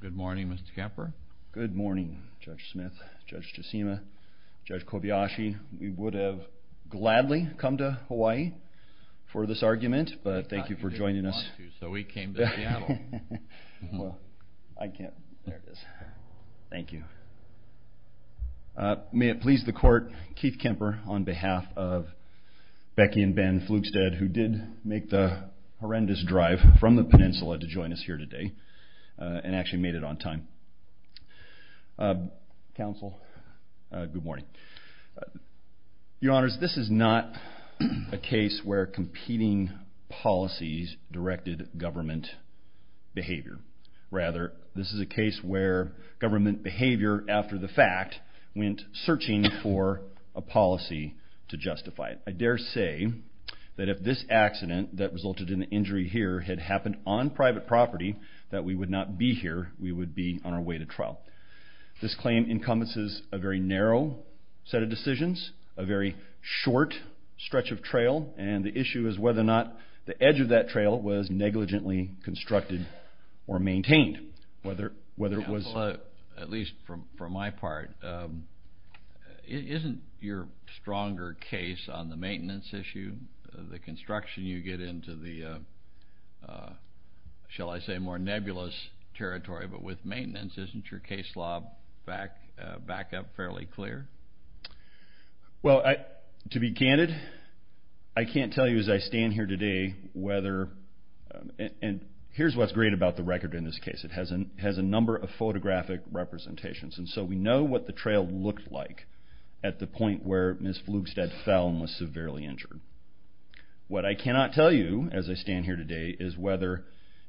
Good morning, Mr. Kemper. Good morning, Judge Smith, Judge Tsushima, Judge Kobayashi. We would have gladly come to Hawaii for this argument, but thank you for joining us. I didn't want to, so we came to Seattle. Well, I can't. There it is. Thank you. May it please the court, Keith Kemper, on behalf of Becky and Ben Flugstad, who did make the horrendous drive from the peninsula to join us here today, and actually made it on time. Counsel, good morning. Your Honors, this is not a case where competing policies directed government behavior. Rather, this is a case where government behavior, after the fact, went searching for a policy to justify it. I dare say that if this accident that resulted in the injury here had happened on private property, that we would not be here. We would be on our way to trial. This claim encompasses a very narrow set of decisions, a very short stretch of trail, and the issue is whether or not the edge of that trail was negligently constructed or maintained. Counsel, at least from my part, isn't your stronger case on the maintenance issue, the construction you get into the, shall I say, more nebulous territory, but with maintenance, isn't your case law back up fairly clear? Well, to be candid, I can't tell you as I stand here today whether, and here's what's great about the record in this case, it has a number of photographic representations, and so we know what the trail looked like at the point where Ms. Flugstad fell and was severely injured. What I cannot tell you, as I stand here today, is whether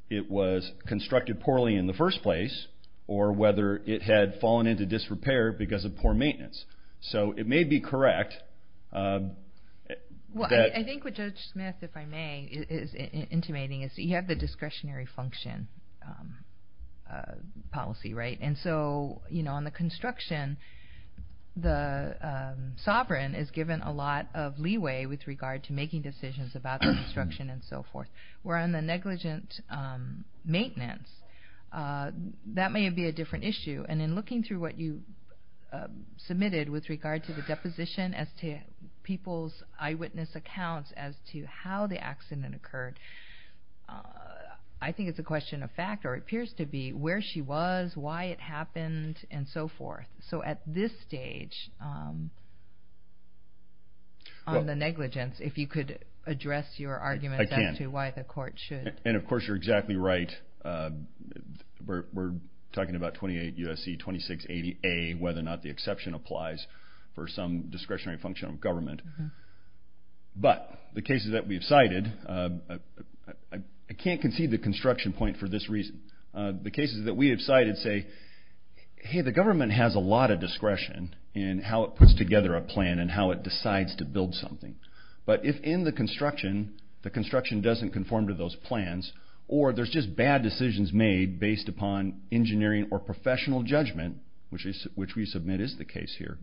it was constructed poorly in the first place or whether it had fallen into disrepair because of poor maintenance. So it may be correct. Well, I think what Judge Smith, if I may, is intimating is that you have the discretionary function policy, right? And so on the construction, the sovereign is given a lot of leeway with regard to making decisions about the construction and so forth. Where on the negligent maintenance, that may be a different issue. And in looking through what you submitted with regard to the deposition as to people's eyewitness accounts as to how the accident occurred, I think it's a question of fact or appears to be where she was, why it happened, and so forth. So at this stage, on the negligence, if you could address your argument as to why the court should. I can. And of course you're exactly right. We're talking about 28 U.S.C. 2680A, whether or not the exception applies for some discretionary function of government. But the cases that we've cited, I can't concede the construction point for this reason. The cases that we have cited say, hey, the government has a lot of discretion in how it puts together a plan and how it decides to build something. But if in the construction, the construction doesn't conform to those plans, or there's just bad decisions made based upon engineering or professional judgment, which we submit is the case here,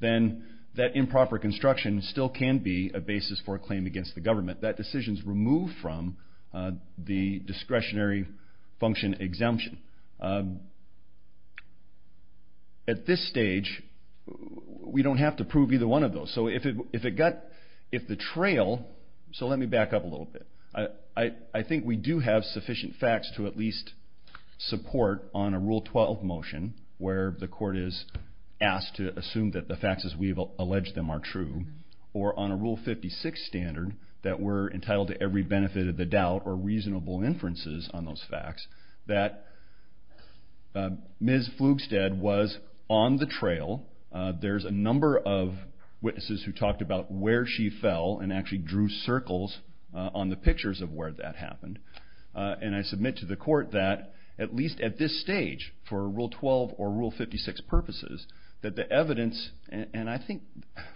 then that improper construction still can be a basis for a claim against the government. That decision is removed from the discretionary function exemption. At this stage, we don't have to prove either one of those. So if it got, if the trail, so let me back up a little bit. I think we do have sufficient facts to at least support on a Rule 12 motion, where the court is asked to assume that the facts as we've alleged them are true, or on a Rule 56 standard that we're entitled to every benefit of the doubt or reasonable inferences on those facts, that Ms. Flugstead was on the trail. There's a number of witnesses who talked about where she fell and actually drew circles on the pictures of where that happened. And I submit to the court that at least at this stage, for Rule 12 or Rule 56 purposes, that the evidence, and I think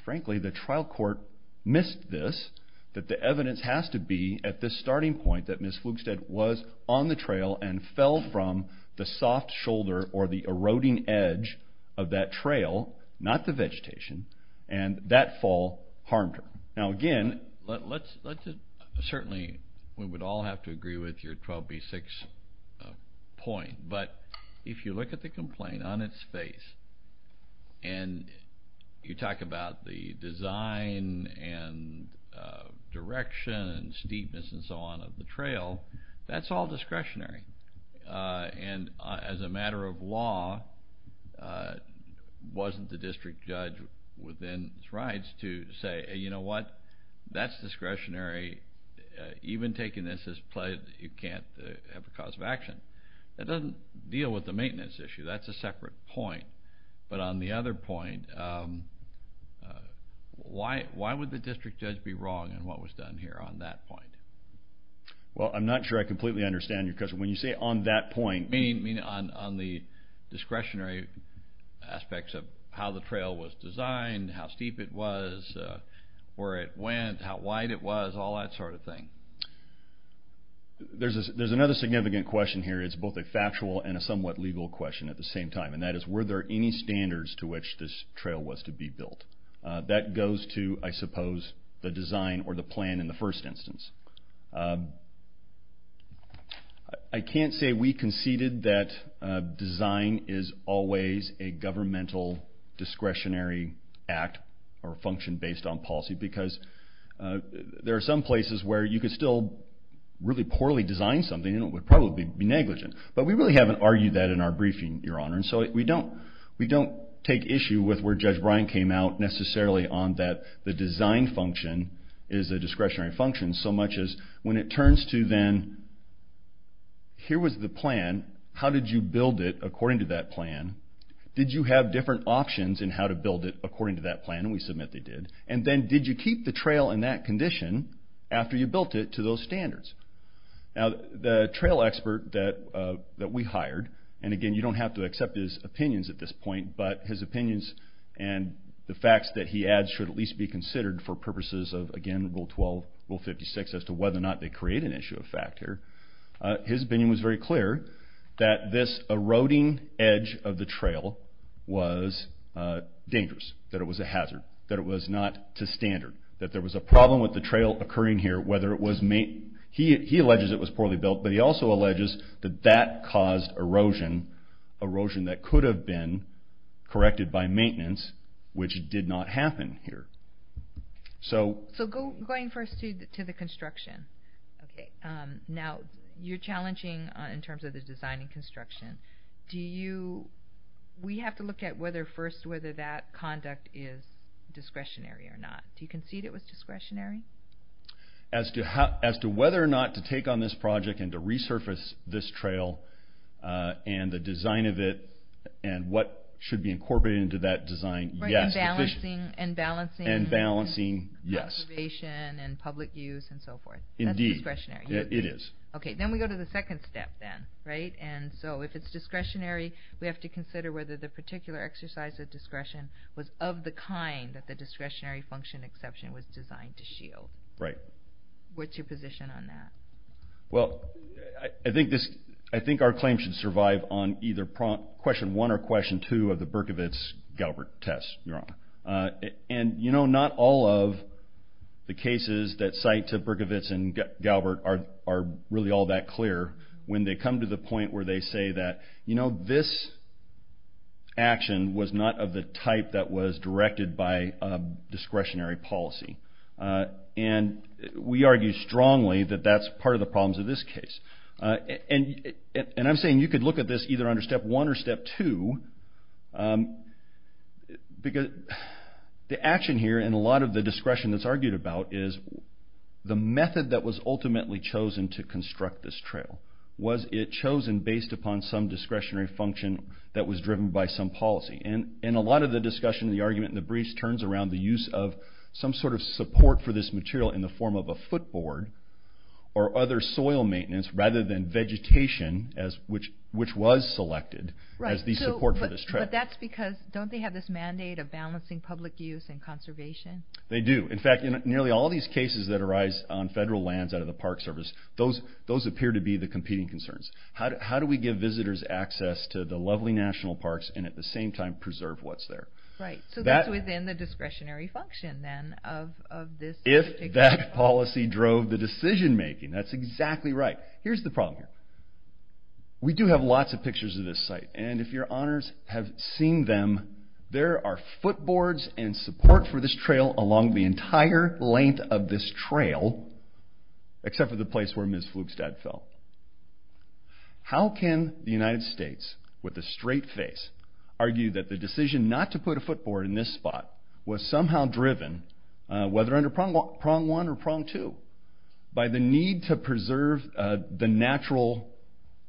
frankly the trial court missed this, that the evidence has to be at this starting point that Ms. Flugstead was on the trail and fell from the soft shoulder or the eroding edge of that trail. Not the vegetation. And that fall harmed her. Now again, let's certainly, we would all have to agree with your 12B6 point, but if you look at the complaint on its face and you talk about the design and direction and steepness and so on of the trail, that's all discretionary. And as a matter of law, wasn't the district judge within his rights to say, you know what, that's discretionary, even taking this as pledge that you can't have a cause of action? That doesn't deal with the maintenance issue. That's a separate point. But on the other point, why would the district judge be wrong in what was done here on that point? Well, I'm not sure I completely understand your question. When you say on that point... Meaning on the discretionary aspects of how the trail was designed, how steep it was, where it went, how wide it was, all that sort of thing. There's another significant question here. It's both a factual and a somewhat legal question at the same time. And that is, were there any standards to which this trail was to be built? That goes to, I suppose, the design or the plan in the first instance. I can't say we conceded that design is always a governmental discretionary act or function based on policy, because there are some places where you could still really poorly design something and it would probably be negligent. But we really haven't argued that in our briefing, Your Honor. So we don't take issue with where Judge Bryan came out necessarily on that the design function is a discretionary function so much as when it turns to then, here was the plan, how did you build it according to that plan? Did you have different options in how to build it according to that plan? And we submit they did. And then, did you keep the trail in that condition after you built it to those standards? Now the trail expert that we hired, and again you don't have to accept his opinions at this point, but his opinions and the facts that he adds should at least be considered for purposes of, again, Rule 12, Rule 56, as to whether or not they create an issue of fact here. His opinion was very clear that this eroding edge of the trail was dangerous. That it was a hazard. That it was not to standard. That there was a problem with the trail occurring here. He alleges it was poorly built, but he also alleges that that caused erosion. Erosion that could have been corrected by maintenance, which did not happen here. So going first to the construction. Now, you're challenging in terms of the design and construction. We have to look at first whether that conduct is discretionary or not. Do you concede it was discretionary? As to whether or not to take on this project and to resurface this trail, and the design of it, and what should be incorporated into that design, yes. And balancing preservation and public use and so forth. Indeed. That's discretionary. It is. Okay, then we go to the second step then, right? And so if it's discretionary, we have to consider whether the particular exercise of discretion was of the kind that the discretionary function exception was designed to shield. Right. What's your position on that? Well, I think our claim should survive on either question one or question two of the Berkovitz-Galbert test, Your Honor. And, you know, not all of the cases that cite Berkovitz and Galbert are really all that clear. When they come to the point where they say that, you know, this action was not of the type that was directed by a discretionary policy. And we argue strongly that that's part of the problems of this case. And I'm saying you could look at this either under step one or step two. The action here and a lot of the discretion that's argued about is the method that was ultimately chosen to construct this trail. Was it chosen based upon some discretionary function that was driven by some policy? And a lot of the discussion, the argument, and the briefs turns around the use of some sort of support for this material in the form of a footboard or other soil maintenance rather than vegetation, which was selected as the support for this trail. But that's because don't they have this mandate of balancing public use and conservation? They do. In fact, nearly all these cases that arise on federal lands out of the Park Service, those appear to be the competing concerns. How do we give visitors access to the lovely national parks and at the same time preserve what's there? Right. So that's within the discretionary function then of this particular... If that policy drove the decision making. That's exactly right. Here's the problem here. We do have lots of pictures of this site. And if your honors have seen them, there are footboards and support for this trail along the entire length of this trail except for the place where Ms. Flugstad fell. How can the United States, with a straight face, argue that the decision not to put a footboard in this spot was somehow driven, whether under prong one or prong two, by the need to preserve the natural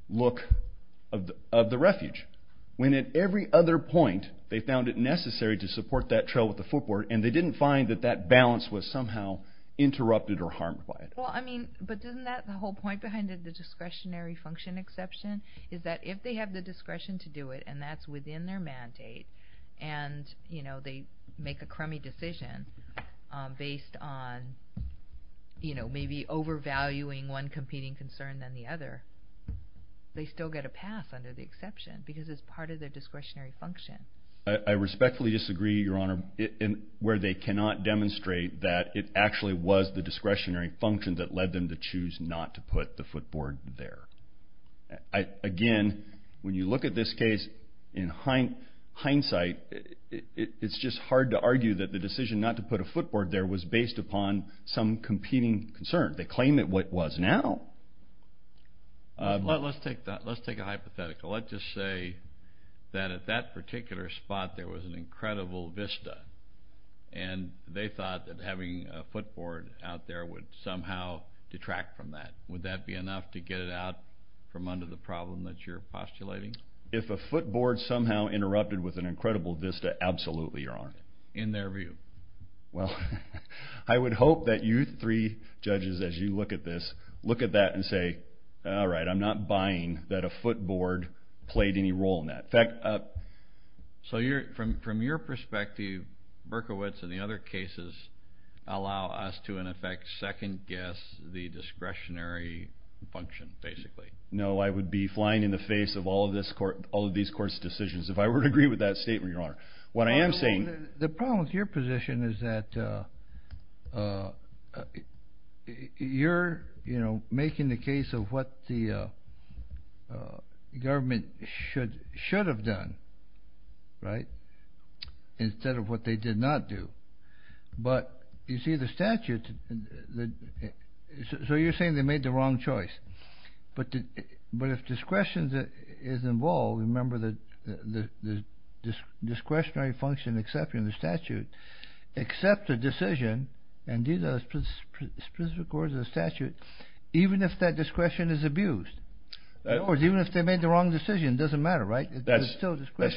look of the refuge when at every other point they found it necessary to support that trail with a footboard and they didn't find that that balance was somehow interrupted or harmed by it? Well, I mean, but isn't that the whole point behind the discretionary function exception is that if they have the discretion to do it and that's within their mandate and they make a crummy decision based on maybe overvaluing one competing concern than the other, they still get a pass under the exception because it's part of their discretionary function. I respectfully disagree, Your Honor. Where they cannot demonstrate that it actually was the discretionary function that led them to choose not to put the footboard there. Again, when you look at this case in hindsight, it's just hard to argue that the decision not to put a footboard there was based upon some competing concern. They claim it was now. Let's take a hypothetical. Let's just say that at that particular spot there was an incredible vista and they thought that having a footboard out there would somehow detract from that. Would that be enough to get it out from under the problem that you're postulating? If a footboard somehow interrupted with an incredible vista, absolutely, Your Honor. In their view. Well, I would hope that you three judges as you look at this look at that and say, all right, I'm not buying that a footboard played any role in that. From your perspective, Berkowitz and the other cases allow us to, in effect, second guess the discretionary function, basically. No, I would be flying in the face of all of these courts' decisions if I were to agree with that statement, Your Honor. The problem with your position is that you're making the case of what the government should have done, right, instead of what they did not do. But you see the statute, so you're saying they made the wrong choice. But if discretion is involved, remember the discretionary function except in the statute, except a decision, and these are specific words of the statute, even if that discretion is abused. In other words, even if they made the wrong decision, it doesn't matter, right? That's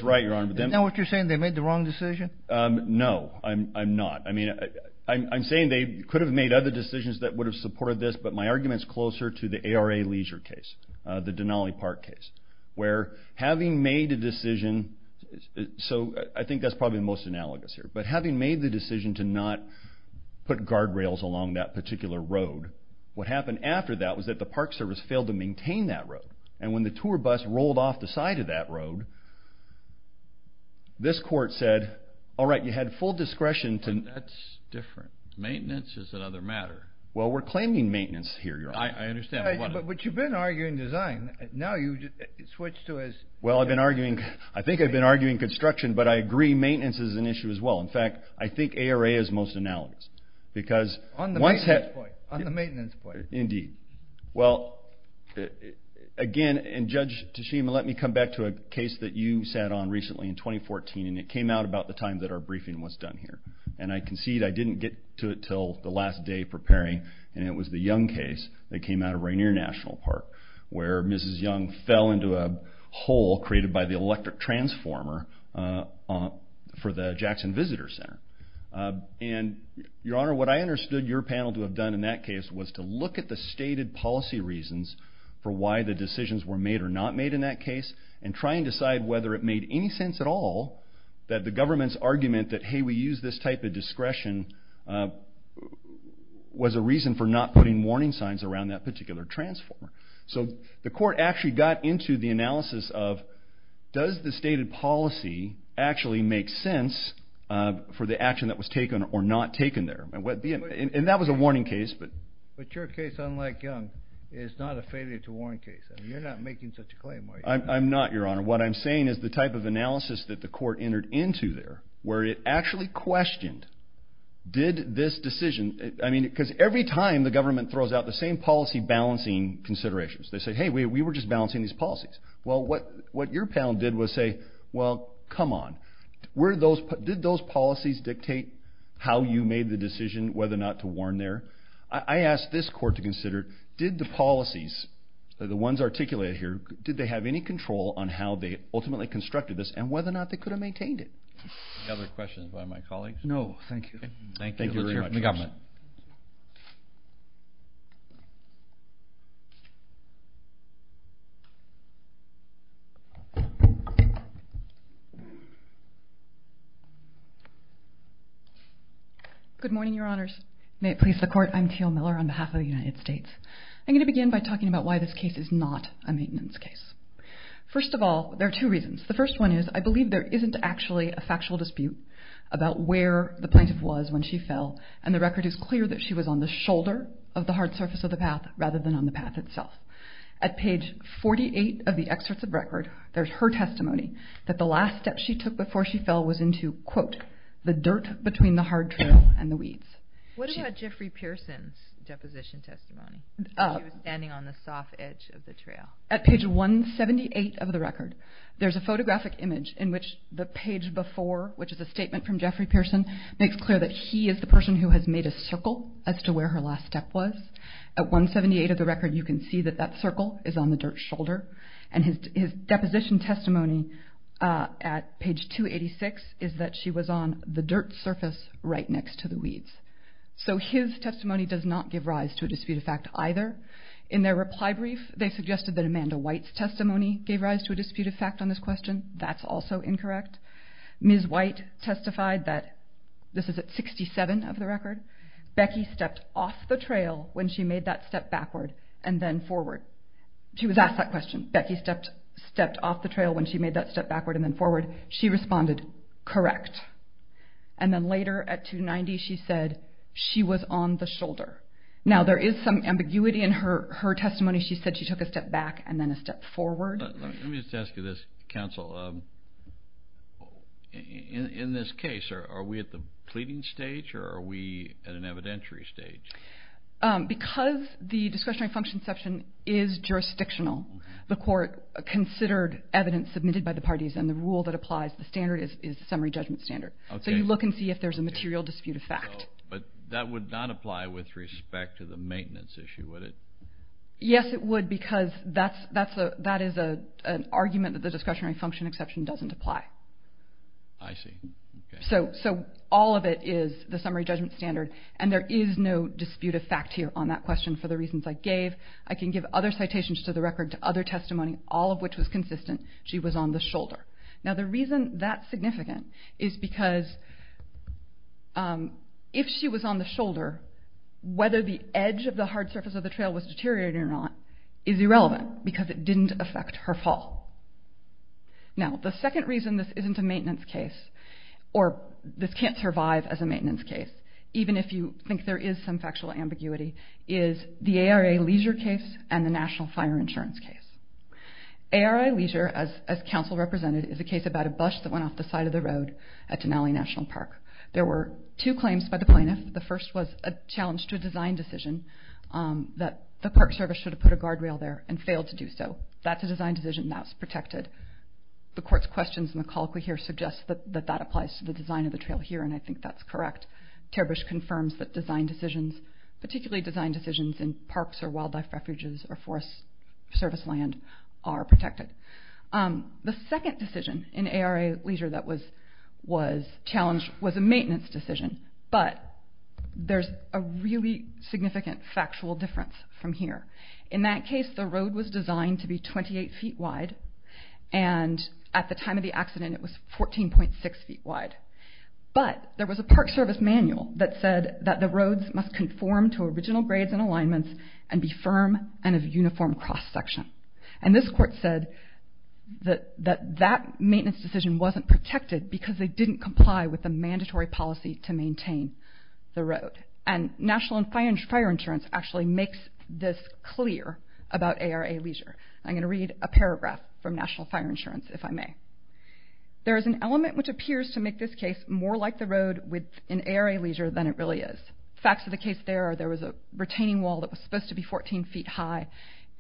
right, Your Honor. Now what you're saying, they made the wrong decision? No, I'm not. I'm saying they could have made other decisions that would have supported this, but my argument's closer to the ARA Leisure case, the Denali Park case, where having made a decision, so I think that's probably the most analogous here, but having made the decision to not put guardrails along that particular road, what happened after that was that the Park Service failed to maintain that road. And when the tour bus rolled off the side of that road, this court said, all right, you had full discretion to... But that's different. Maintenance is another matter. Well, we're claiming maintenance here, Your Honor. I understand, but what... But you've been arguing design. Now you switch to as... Well, I think I've been arguing construction, but I agree maintenance is an issue as well. In fact, I think ARA is most analogous because once... On the maintenance point. Indeed. Well, again, and Judge Tashima, let me come back to a case that you sat on recently in 2014, and it came out about the time that our briefing was done here, and I concede I didn't get to it until the last day preparing, and it was the Young case that came out of Rainier National Park, where Mrs. Young fell into a hole created by the electric transformer for the Jackson Visitor Center. And, Your Honor, what I understood your panel to have done in that case was to look at the stated policy reasons for why the decisions were made or not made in that case and try and decide whether it made any sense at all that the government's argument that, hey, we use this type of discretion was a reason for not putting warning signs around that particular transformer. So the court actually got into the analysis of, does the stated policy actually make sense for the action that was taken or not taken there? And that was a warning case, but... But your case, unlike Young, is not a failure to warn case. You're not making such a claim, are you? I'm not, Your Honor. What I'm saying is the type of analysis that the court entered into there, where it actually questioned, did this decision... I mean, because every time the government throws out the same policy balancing considerations, they say, hey, we were just balancing these policies. Well, what your panel did was say, well, come on. Did those policies dictate how you made the decision whether or not to warn there? I asked this court to consider, did the policies, the ones articulated here, did they have any control on how they ultimately constructed this and whether or not they could have maintained it? Any other questions by my colleagues? No, thank you. Thank you very much. Good morning, Your Honors. May it please the Court, I'm Teal Miller on behalf of the United States. I'm going to begin by talking about why this case is not a maintenance case. First of all, there are two reasons. The first one is I believe there isn't actually a factual dispute about where the plaintiff was when she fell, and the record is clear that she was on the shoulder of the hard surface of the path rather than on the path itself. At page 48 of the excerpts of record, there's her testimony that the last step she took before she fell was into, quote, the dirt between the hard trail and the weeds. What about Jeffrey Pearson's deposition testimony? He was standing on the soft edge of the trail. At page 178 of the record, there's a photographic image in which the page before, which is a statement from Jeffrey Pearson, makes clear that he is the person who has made a circle as to where her last step was. At 178 of the record, you can see that that circle is on the dirt shoulder, and his deposition testimony at page 286 is that she was on the dirt surface right next to the weeds. So his testimony does not give rise to a dispute of fact either. In their reply brief, they suggested that Amanda White's testimony gave rise to a dispute of fact on this question. That's also incorrect. Ms. White testified that, this is at 67 of the record, Becky stepped off the trail when she made that step backward and then forward. She was asked that question. Becky stepped off the trail when she made that step backward and then forward. She responded, correct. And then later, at 290, she said she was on the shoulder. Now, there is some ambiguity in her testimony. She said she took a step back and then a step forward. Let me just ask you this, counsel. In this case, are we at the pleading stage or are we at an evidentiary stage? Because the discretionary function section is jurisdictional, the court considered evidence submitted by the parties and the rule that applies to the standard is the summary judgment standard. So you look and see if there's a material dispute of fact. But that would not apply with respect to the maintenance issue, would it? Yes, it would because that is an argument that the discretionary function exception doesn't apply. I see. So all of it is the summary judgment standard and there is no dispute of fact here on that question for the reasons I gave. I can give other citations to the record to other testimony, all of which was consistent. She was on the shoulder. Now, the reason that's significant is because if she was on the shoulder, whether the edge of the hard surface of the trail was deteriorating or not is irrelevant because it didn't affect her fall. Now, the second reason this isn't a maintenance case or this can't survive as a maintenance case, even if you think there is some factual ambiguity, is the ARA Leisure case and the National Fire Insurance case. ARA Leisure, as counsel represented, is a case about a bus that went off the side of the road at Denali National Park. There were two claims by the plaintiff. The first was a challenge to a design decision that the park service should have put a guardrail there and failed to do so. That's a design decision and that was protected. The court's questions and the call we hear suggest that that applies to the design of the trail here, and I think that's correct. Terbish confirms that design decisions, particularly design decisions in parks or wildlife refuges or forest service land, are protected. The second decision in ARA Leisure that was challenged was a maintenance decision, but there's a really significant factual difference from here. In that case, the road was designed to be 28 feet wide, and at the time of the accident, it was 14.6 feet wide, but there was a park service manual that said that the roads must conform to original grades and alignments and be firm and of uniform cross-section. This court said that that maintenance decision wasn't protected because they didn't comply with the mandatory policy to maintain the road. National Fire Insurance actually makes this clear about ARA Leisure. I'm going to read a paragraph from National Fire Insurance, if I may. There is an element which appears to make this case more like the road in ARA Leisure than it really is. Facts of the case there are there was a retaining wall that was supposed to be 14 feet high,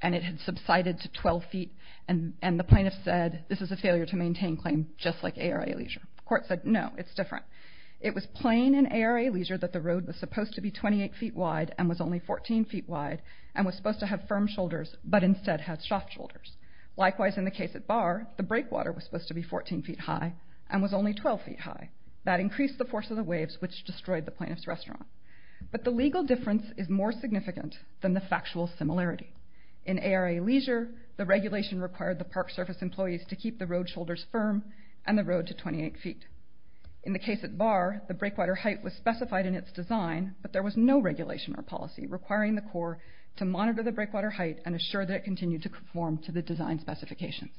and it had subsided to 12 feet, and the plaintiff said this is a failure to maintain claim just like ARA Leisure. The court said no, it's different. It was plain in ARA Leisure that the road was supposed to be 28 feet wide and was only 14 feet wide and was supposed to have firm shoulders but instead had soft shoulders. Likewise, in the case at Barr, the breakwater was supposed to be 14 feet high and was only 12 feet high. That increased the force of the waves which destroyed the plaintiff's restaurant. But the legal difference is more significant than the factual similarity. In ARA Leisure, the regulation required the park service employees to keep the road shoulders firm and the road to 28 feet. In the case at Barr, the breakwater height was specified in its design, but there was no regulation or policy requiring the court to monitor the breakwater height and assure that it continued to conform to the design specifications.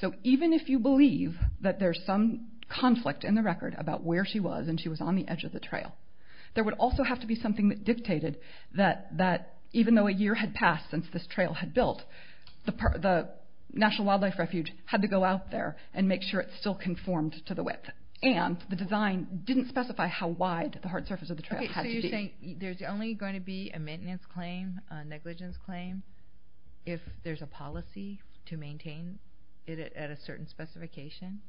So even if you believe that there's some conflict in the record about where she was and she was on the edge of the trail, there would also have to be something that dictated that even though a year had passed since this trail had built, the National Wildlife Refuge had to go out there and make sure it still conformed to the width. And the design didn't specify how wide the hard surface of the trail had to be. So you're saying there's only going to be a maintenance claim, a negligence claim, if there's a policy to maintain it at a certain specification?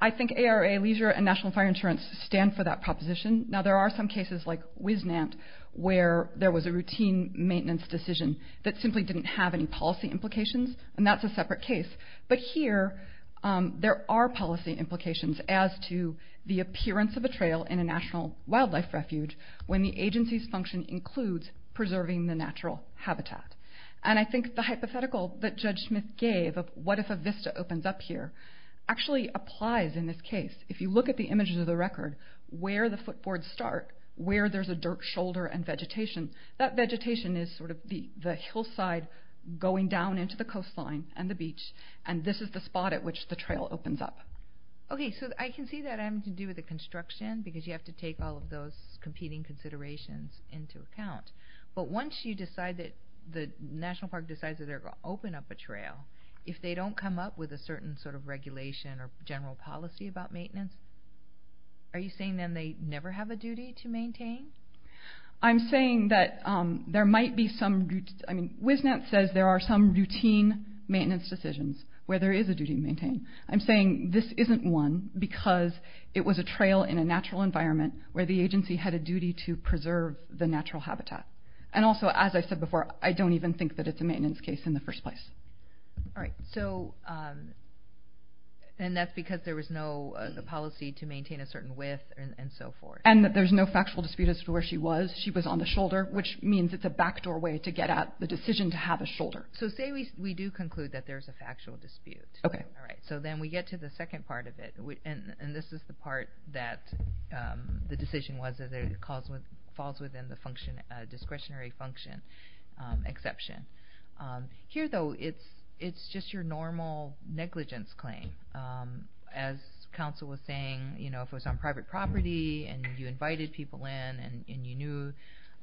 I think ARA Leisure and National Fire Insurance stand for that proposition. Now there are some cases, like WisNant, where there was a routine maintenance decision that simply didn't have any policy implications, and that's a separate case. But here there are policy implications as to the appearance of a trail in a National Wildlife Refuge when the agency's function includes preserving the natural habitat. And I think the hypothetical that Judge Smith gave of what if a vista opens up here, actually applies in this case. If you look at the images of the record, where the footboards start, where there's a dirt shoulder and vegetation, that vegetation is sort of the hillside going down into the coastline and the beach, and this is the spot at which the trail opens up. Okay, so I can see that having to do with the construction, because you have to take all of those competing considerations into account. But once the National Park decides that they're going to open up a trail, if they don't come up with a certain sort of regulation or general policy about maintenance, are you saying then they never have a duty to maintain? I'm saying that there might be some... WisNant says there are some routine maintenance decisions where there is a duty to maintain. I'm saying this isn't one because it was a trail in a natural environment where the agency had a duty to preserve the natural habitat. And also, as I said before, I don't even think that it's a maintenance case in the first place. All right, so... And that's because there was no policy to maintain a certain width and so forth. And that there's no factual dispute as to where she was. She was on the shoulder, which means it's a backdoor way to get at the decision to have a shoulder. So say we do conclude that there's a factual dispute. Okay. All right, so then we get to the second part of it. And this is the part that the decision was that it falls within the discretionary function exception. Here, though, it's just your normal negligence claim. As counsel was saying, if it was on private property and you invited people in and you knew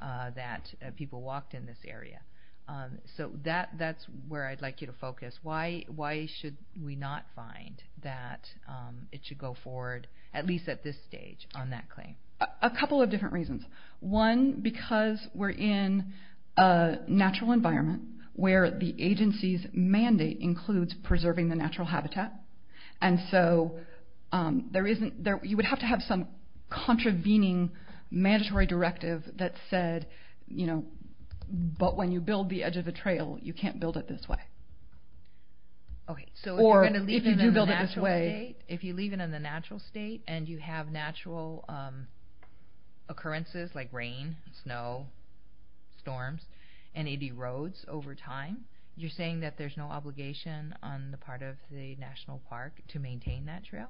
that people walked in this area. So that's where I'd like you to focus. Why should we not find that it should go forward, at least at this stage, on that claim? A couple of different reasons. One, because we're in a natural environment where the agency's mandate includes preserving the natural habitat. And so you would have to have some contravening mandatory directive that said, you know, Or if you do build it this way. If you leave it in the natural state and you have natural occurrences like rain, snow, storms, and it erodes over time, you're saying that there's no obligation on the part of the national park to maintain that trail?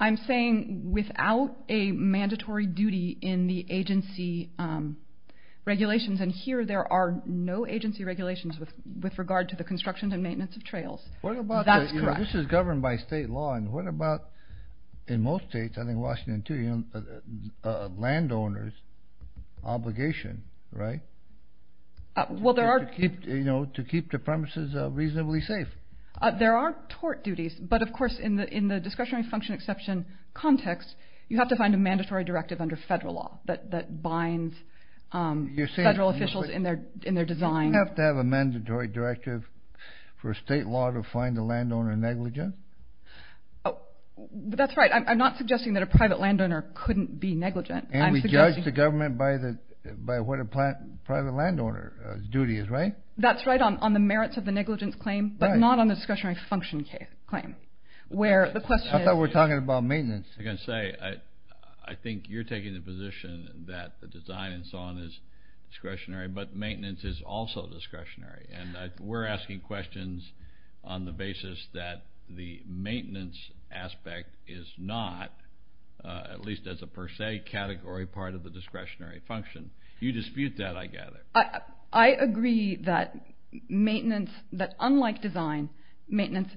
I'm saying without a mandatory duty in the agency regulations. And here there are no agency regulations with regard to the construction and maintenance of trails. That's correct. This is governed by state law, and what about in most states, I think Washington too, landowners' obligation, right? Well, there are. To keep the premises reasonably safe. There are tort duties, but of course in the discretionary function exception context, you have to find a mandatory directive under federal law that binds federal officials in their design. Do we have to have a mandatory directive for state law to find a landowner negligent? That's right. I'm not suggesting that a private landowner couldn't be negligent. And we judge the government by what a private landowner's duty is, right? That's right, on the merits of the negligence claim, but not on the discretionary function claim. I thought we were talking about maintenance. I think you're taking the position that the design and so on is discretionary, but maintenance is also discretionary. And we're asking questions on the basis that the maintenance aspect is not, at least as a per se category, part of the discretionary function. You dispute that, I gather. I agree that maintenance, that unlike design, maintenance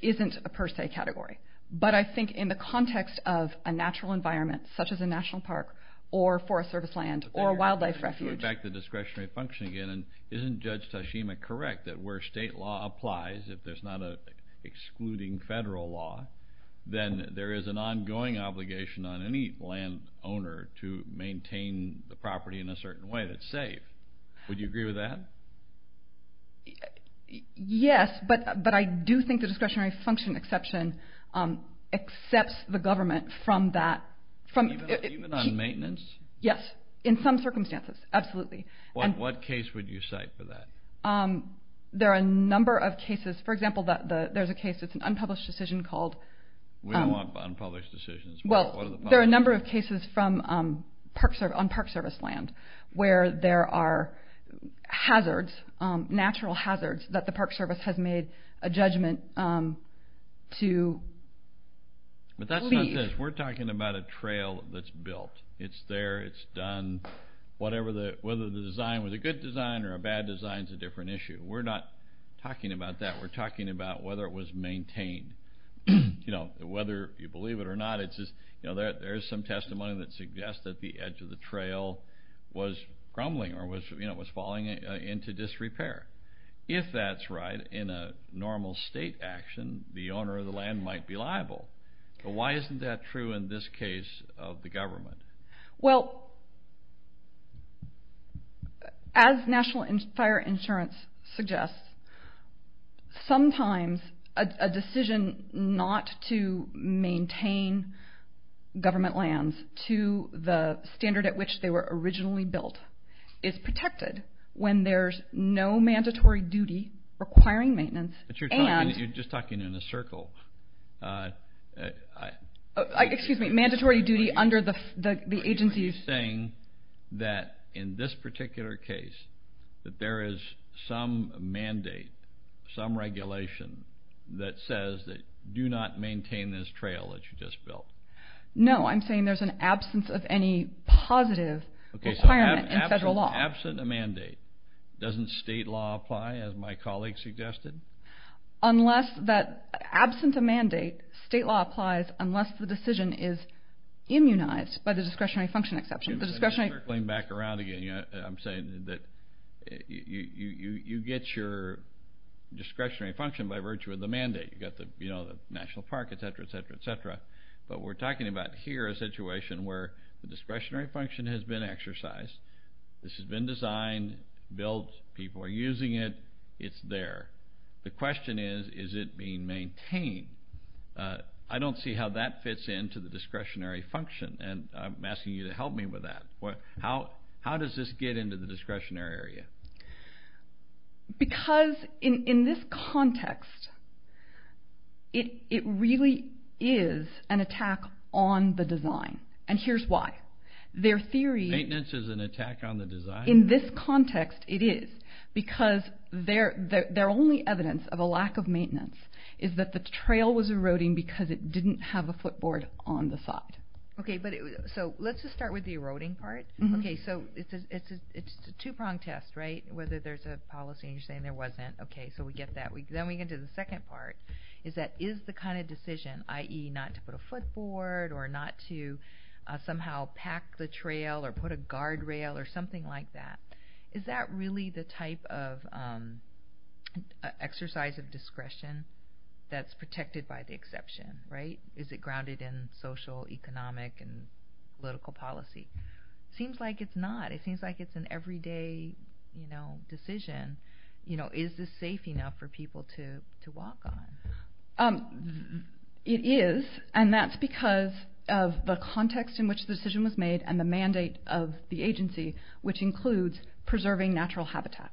isn't a per se category. But I think in the context of a natural environment, such as a national park or forest service land or a wildlife refuge. Let's get back to discretionary function again. Isn't Judge Tashima correct that where state law applies, if there's not an excluding federal law, then there is an ongoing obligation on any landowner to maintain the property in a certain way that's safe? Would you agree with that? Yes, but I do think the discretionary function exception accepts the government from that. Even on maintenance? Yes, in some circumstances, absolutely. What case would you cite for that? There are a number of cases. For example, there's a case, it's an unpublished decision called. We don't want unpublished decisions. Well, there are a number of cases on park service land where there are hazards, natural hazards, that the park service has made a judgment to leave. But that's not this. We're talking about a trail that's built. It's there, it's done, whether the design was a good design or a bad design is a different issue. We're not talking about that. We're talking about whether it was maintained. Whether you believe it or not, there is some testimony that suggests that the edge of the trail was crumbling or was falling into disrepair. If that's right, in a normal state action, the owner of the land might be liable. Why isn't that true in this case of the government? Well, as National Fire Insurance suggests, sometimes a decision not to maintain government lands to the standard at which they were originally built is protected when there's no mandatory duty requiring maintenance. But you're just talking in a circle. Excuse me, mandatory duty under the agency. Are you saying that in this particular case that there is some mandate, some regulation that says do not maintain this trail that you just built? No, I'm saying there's an absence of any positive requirement in federal law. Okay, so absent a mandate, doesn't state law apply as my colleague suggested? Absent a mandate, state law applies unless the decision is immunized by the discretionary function exception. Circling back around again, I'm saying that you get your discretionary function by virtue of the mandate. You've got the National Park, et cetera, et cetera, et cetera. But we're talking about here a situation where the discretionary function has been exercised. This has been designed, built, people are using it, it's there. The question is, is it being maintained? I don't see how that fits into the discretionary function, and I'm asking you to help me with that. How does this get into the discretionary area? Because in this context, it really is an attack on the design, and here's why. Maintenance is an attack on the design? In this context, it is, because their only evidence of a lack of maintenance is that the trail was eroding because it didn't have a footboard on the side. Okay, so let's just start with the eroding part. Okay, so it's a two-pronged test, right, whether there's a policy and you're saying there wasn't. Okay, so we get that. Then we get to the second part, is that is the kind of decision, i.e. not to put a footboard or not to somehow pack the trail or put a guardrail or something like that, is that really the type of exercise of discretion that's protected by the exception, right? Is it grounded in social, economic, and political policy? Seems like it's not. It seems like it's an everyday decision. Is this safe enough for people to walk on? It is, and that's because of the context in which the decision was made and the mandate of the agency, which includes preserving natural habitat.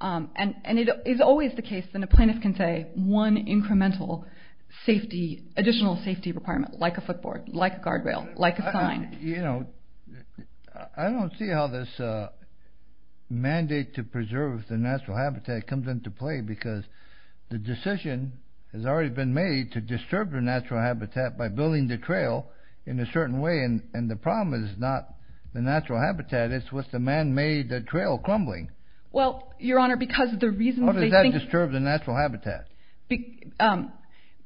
And it is always the case that a plaintiff can say one incremental additional safety requirement, like a footboard, like a guardrail, like a sign. I don't see how this mandate to preserve the natural habitat comes into play because the decision has already been made to disturb the natural habitat by building the trail in a certain way, and the problem is not the natural habitat. It's what's the man-made trail crumbling. Well, Your Honor, because the reason they think— How does that disturb the natural habitat?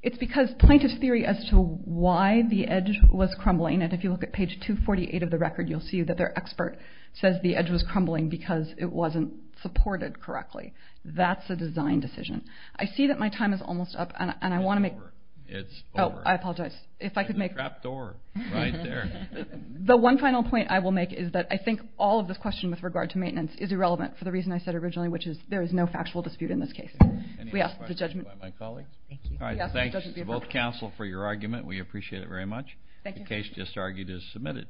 It's because plaintiff's theory as to why the edge was crumbling, and if you look at page 248 of the record, you'll see that their expert says the edge was crumbling because it wasn't supported correctly. That's a design decision. I see that my time is almost up, and I want to make— It's over. It's over. Oh, I apologize. If I could make— There's a trap door right there. The one final point I will make is that I think all of this question with regard to maintenance is irrelevant for the reason I said originally, which is there is no factual dispute in this case. Any other questions by my colleague? All right, thanks to both counsel for your argument. We appreciate it very much. The case just argued is submitted.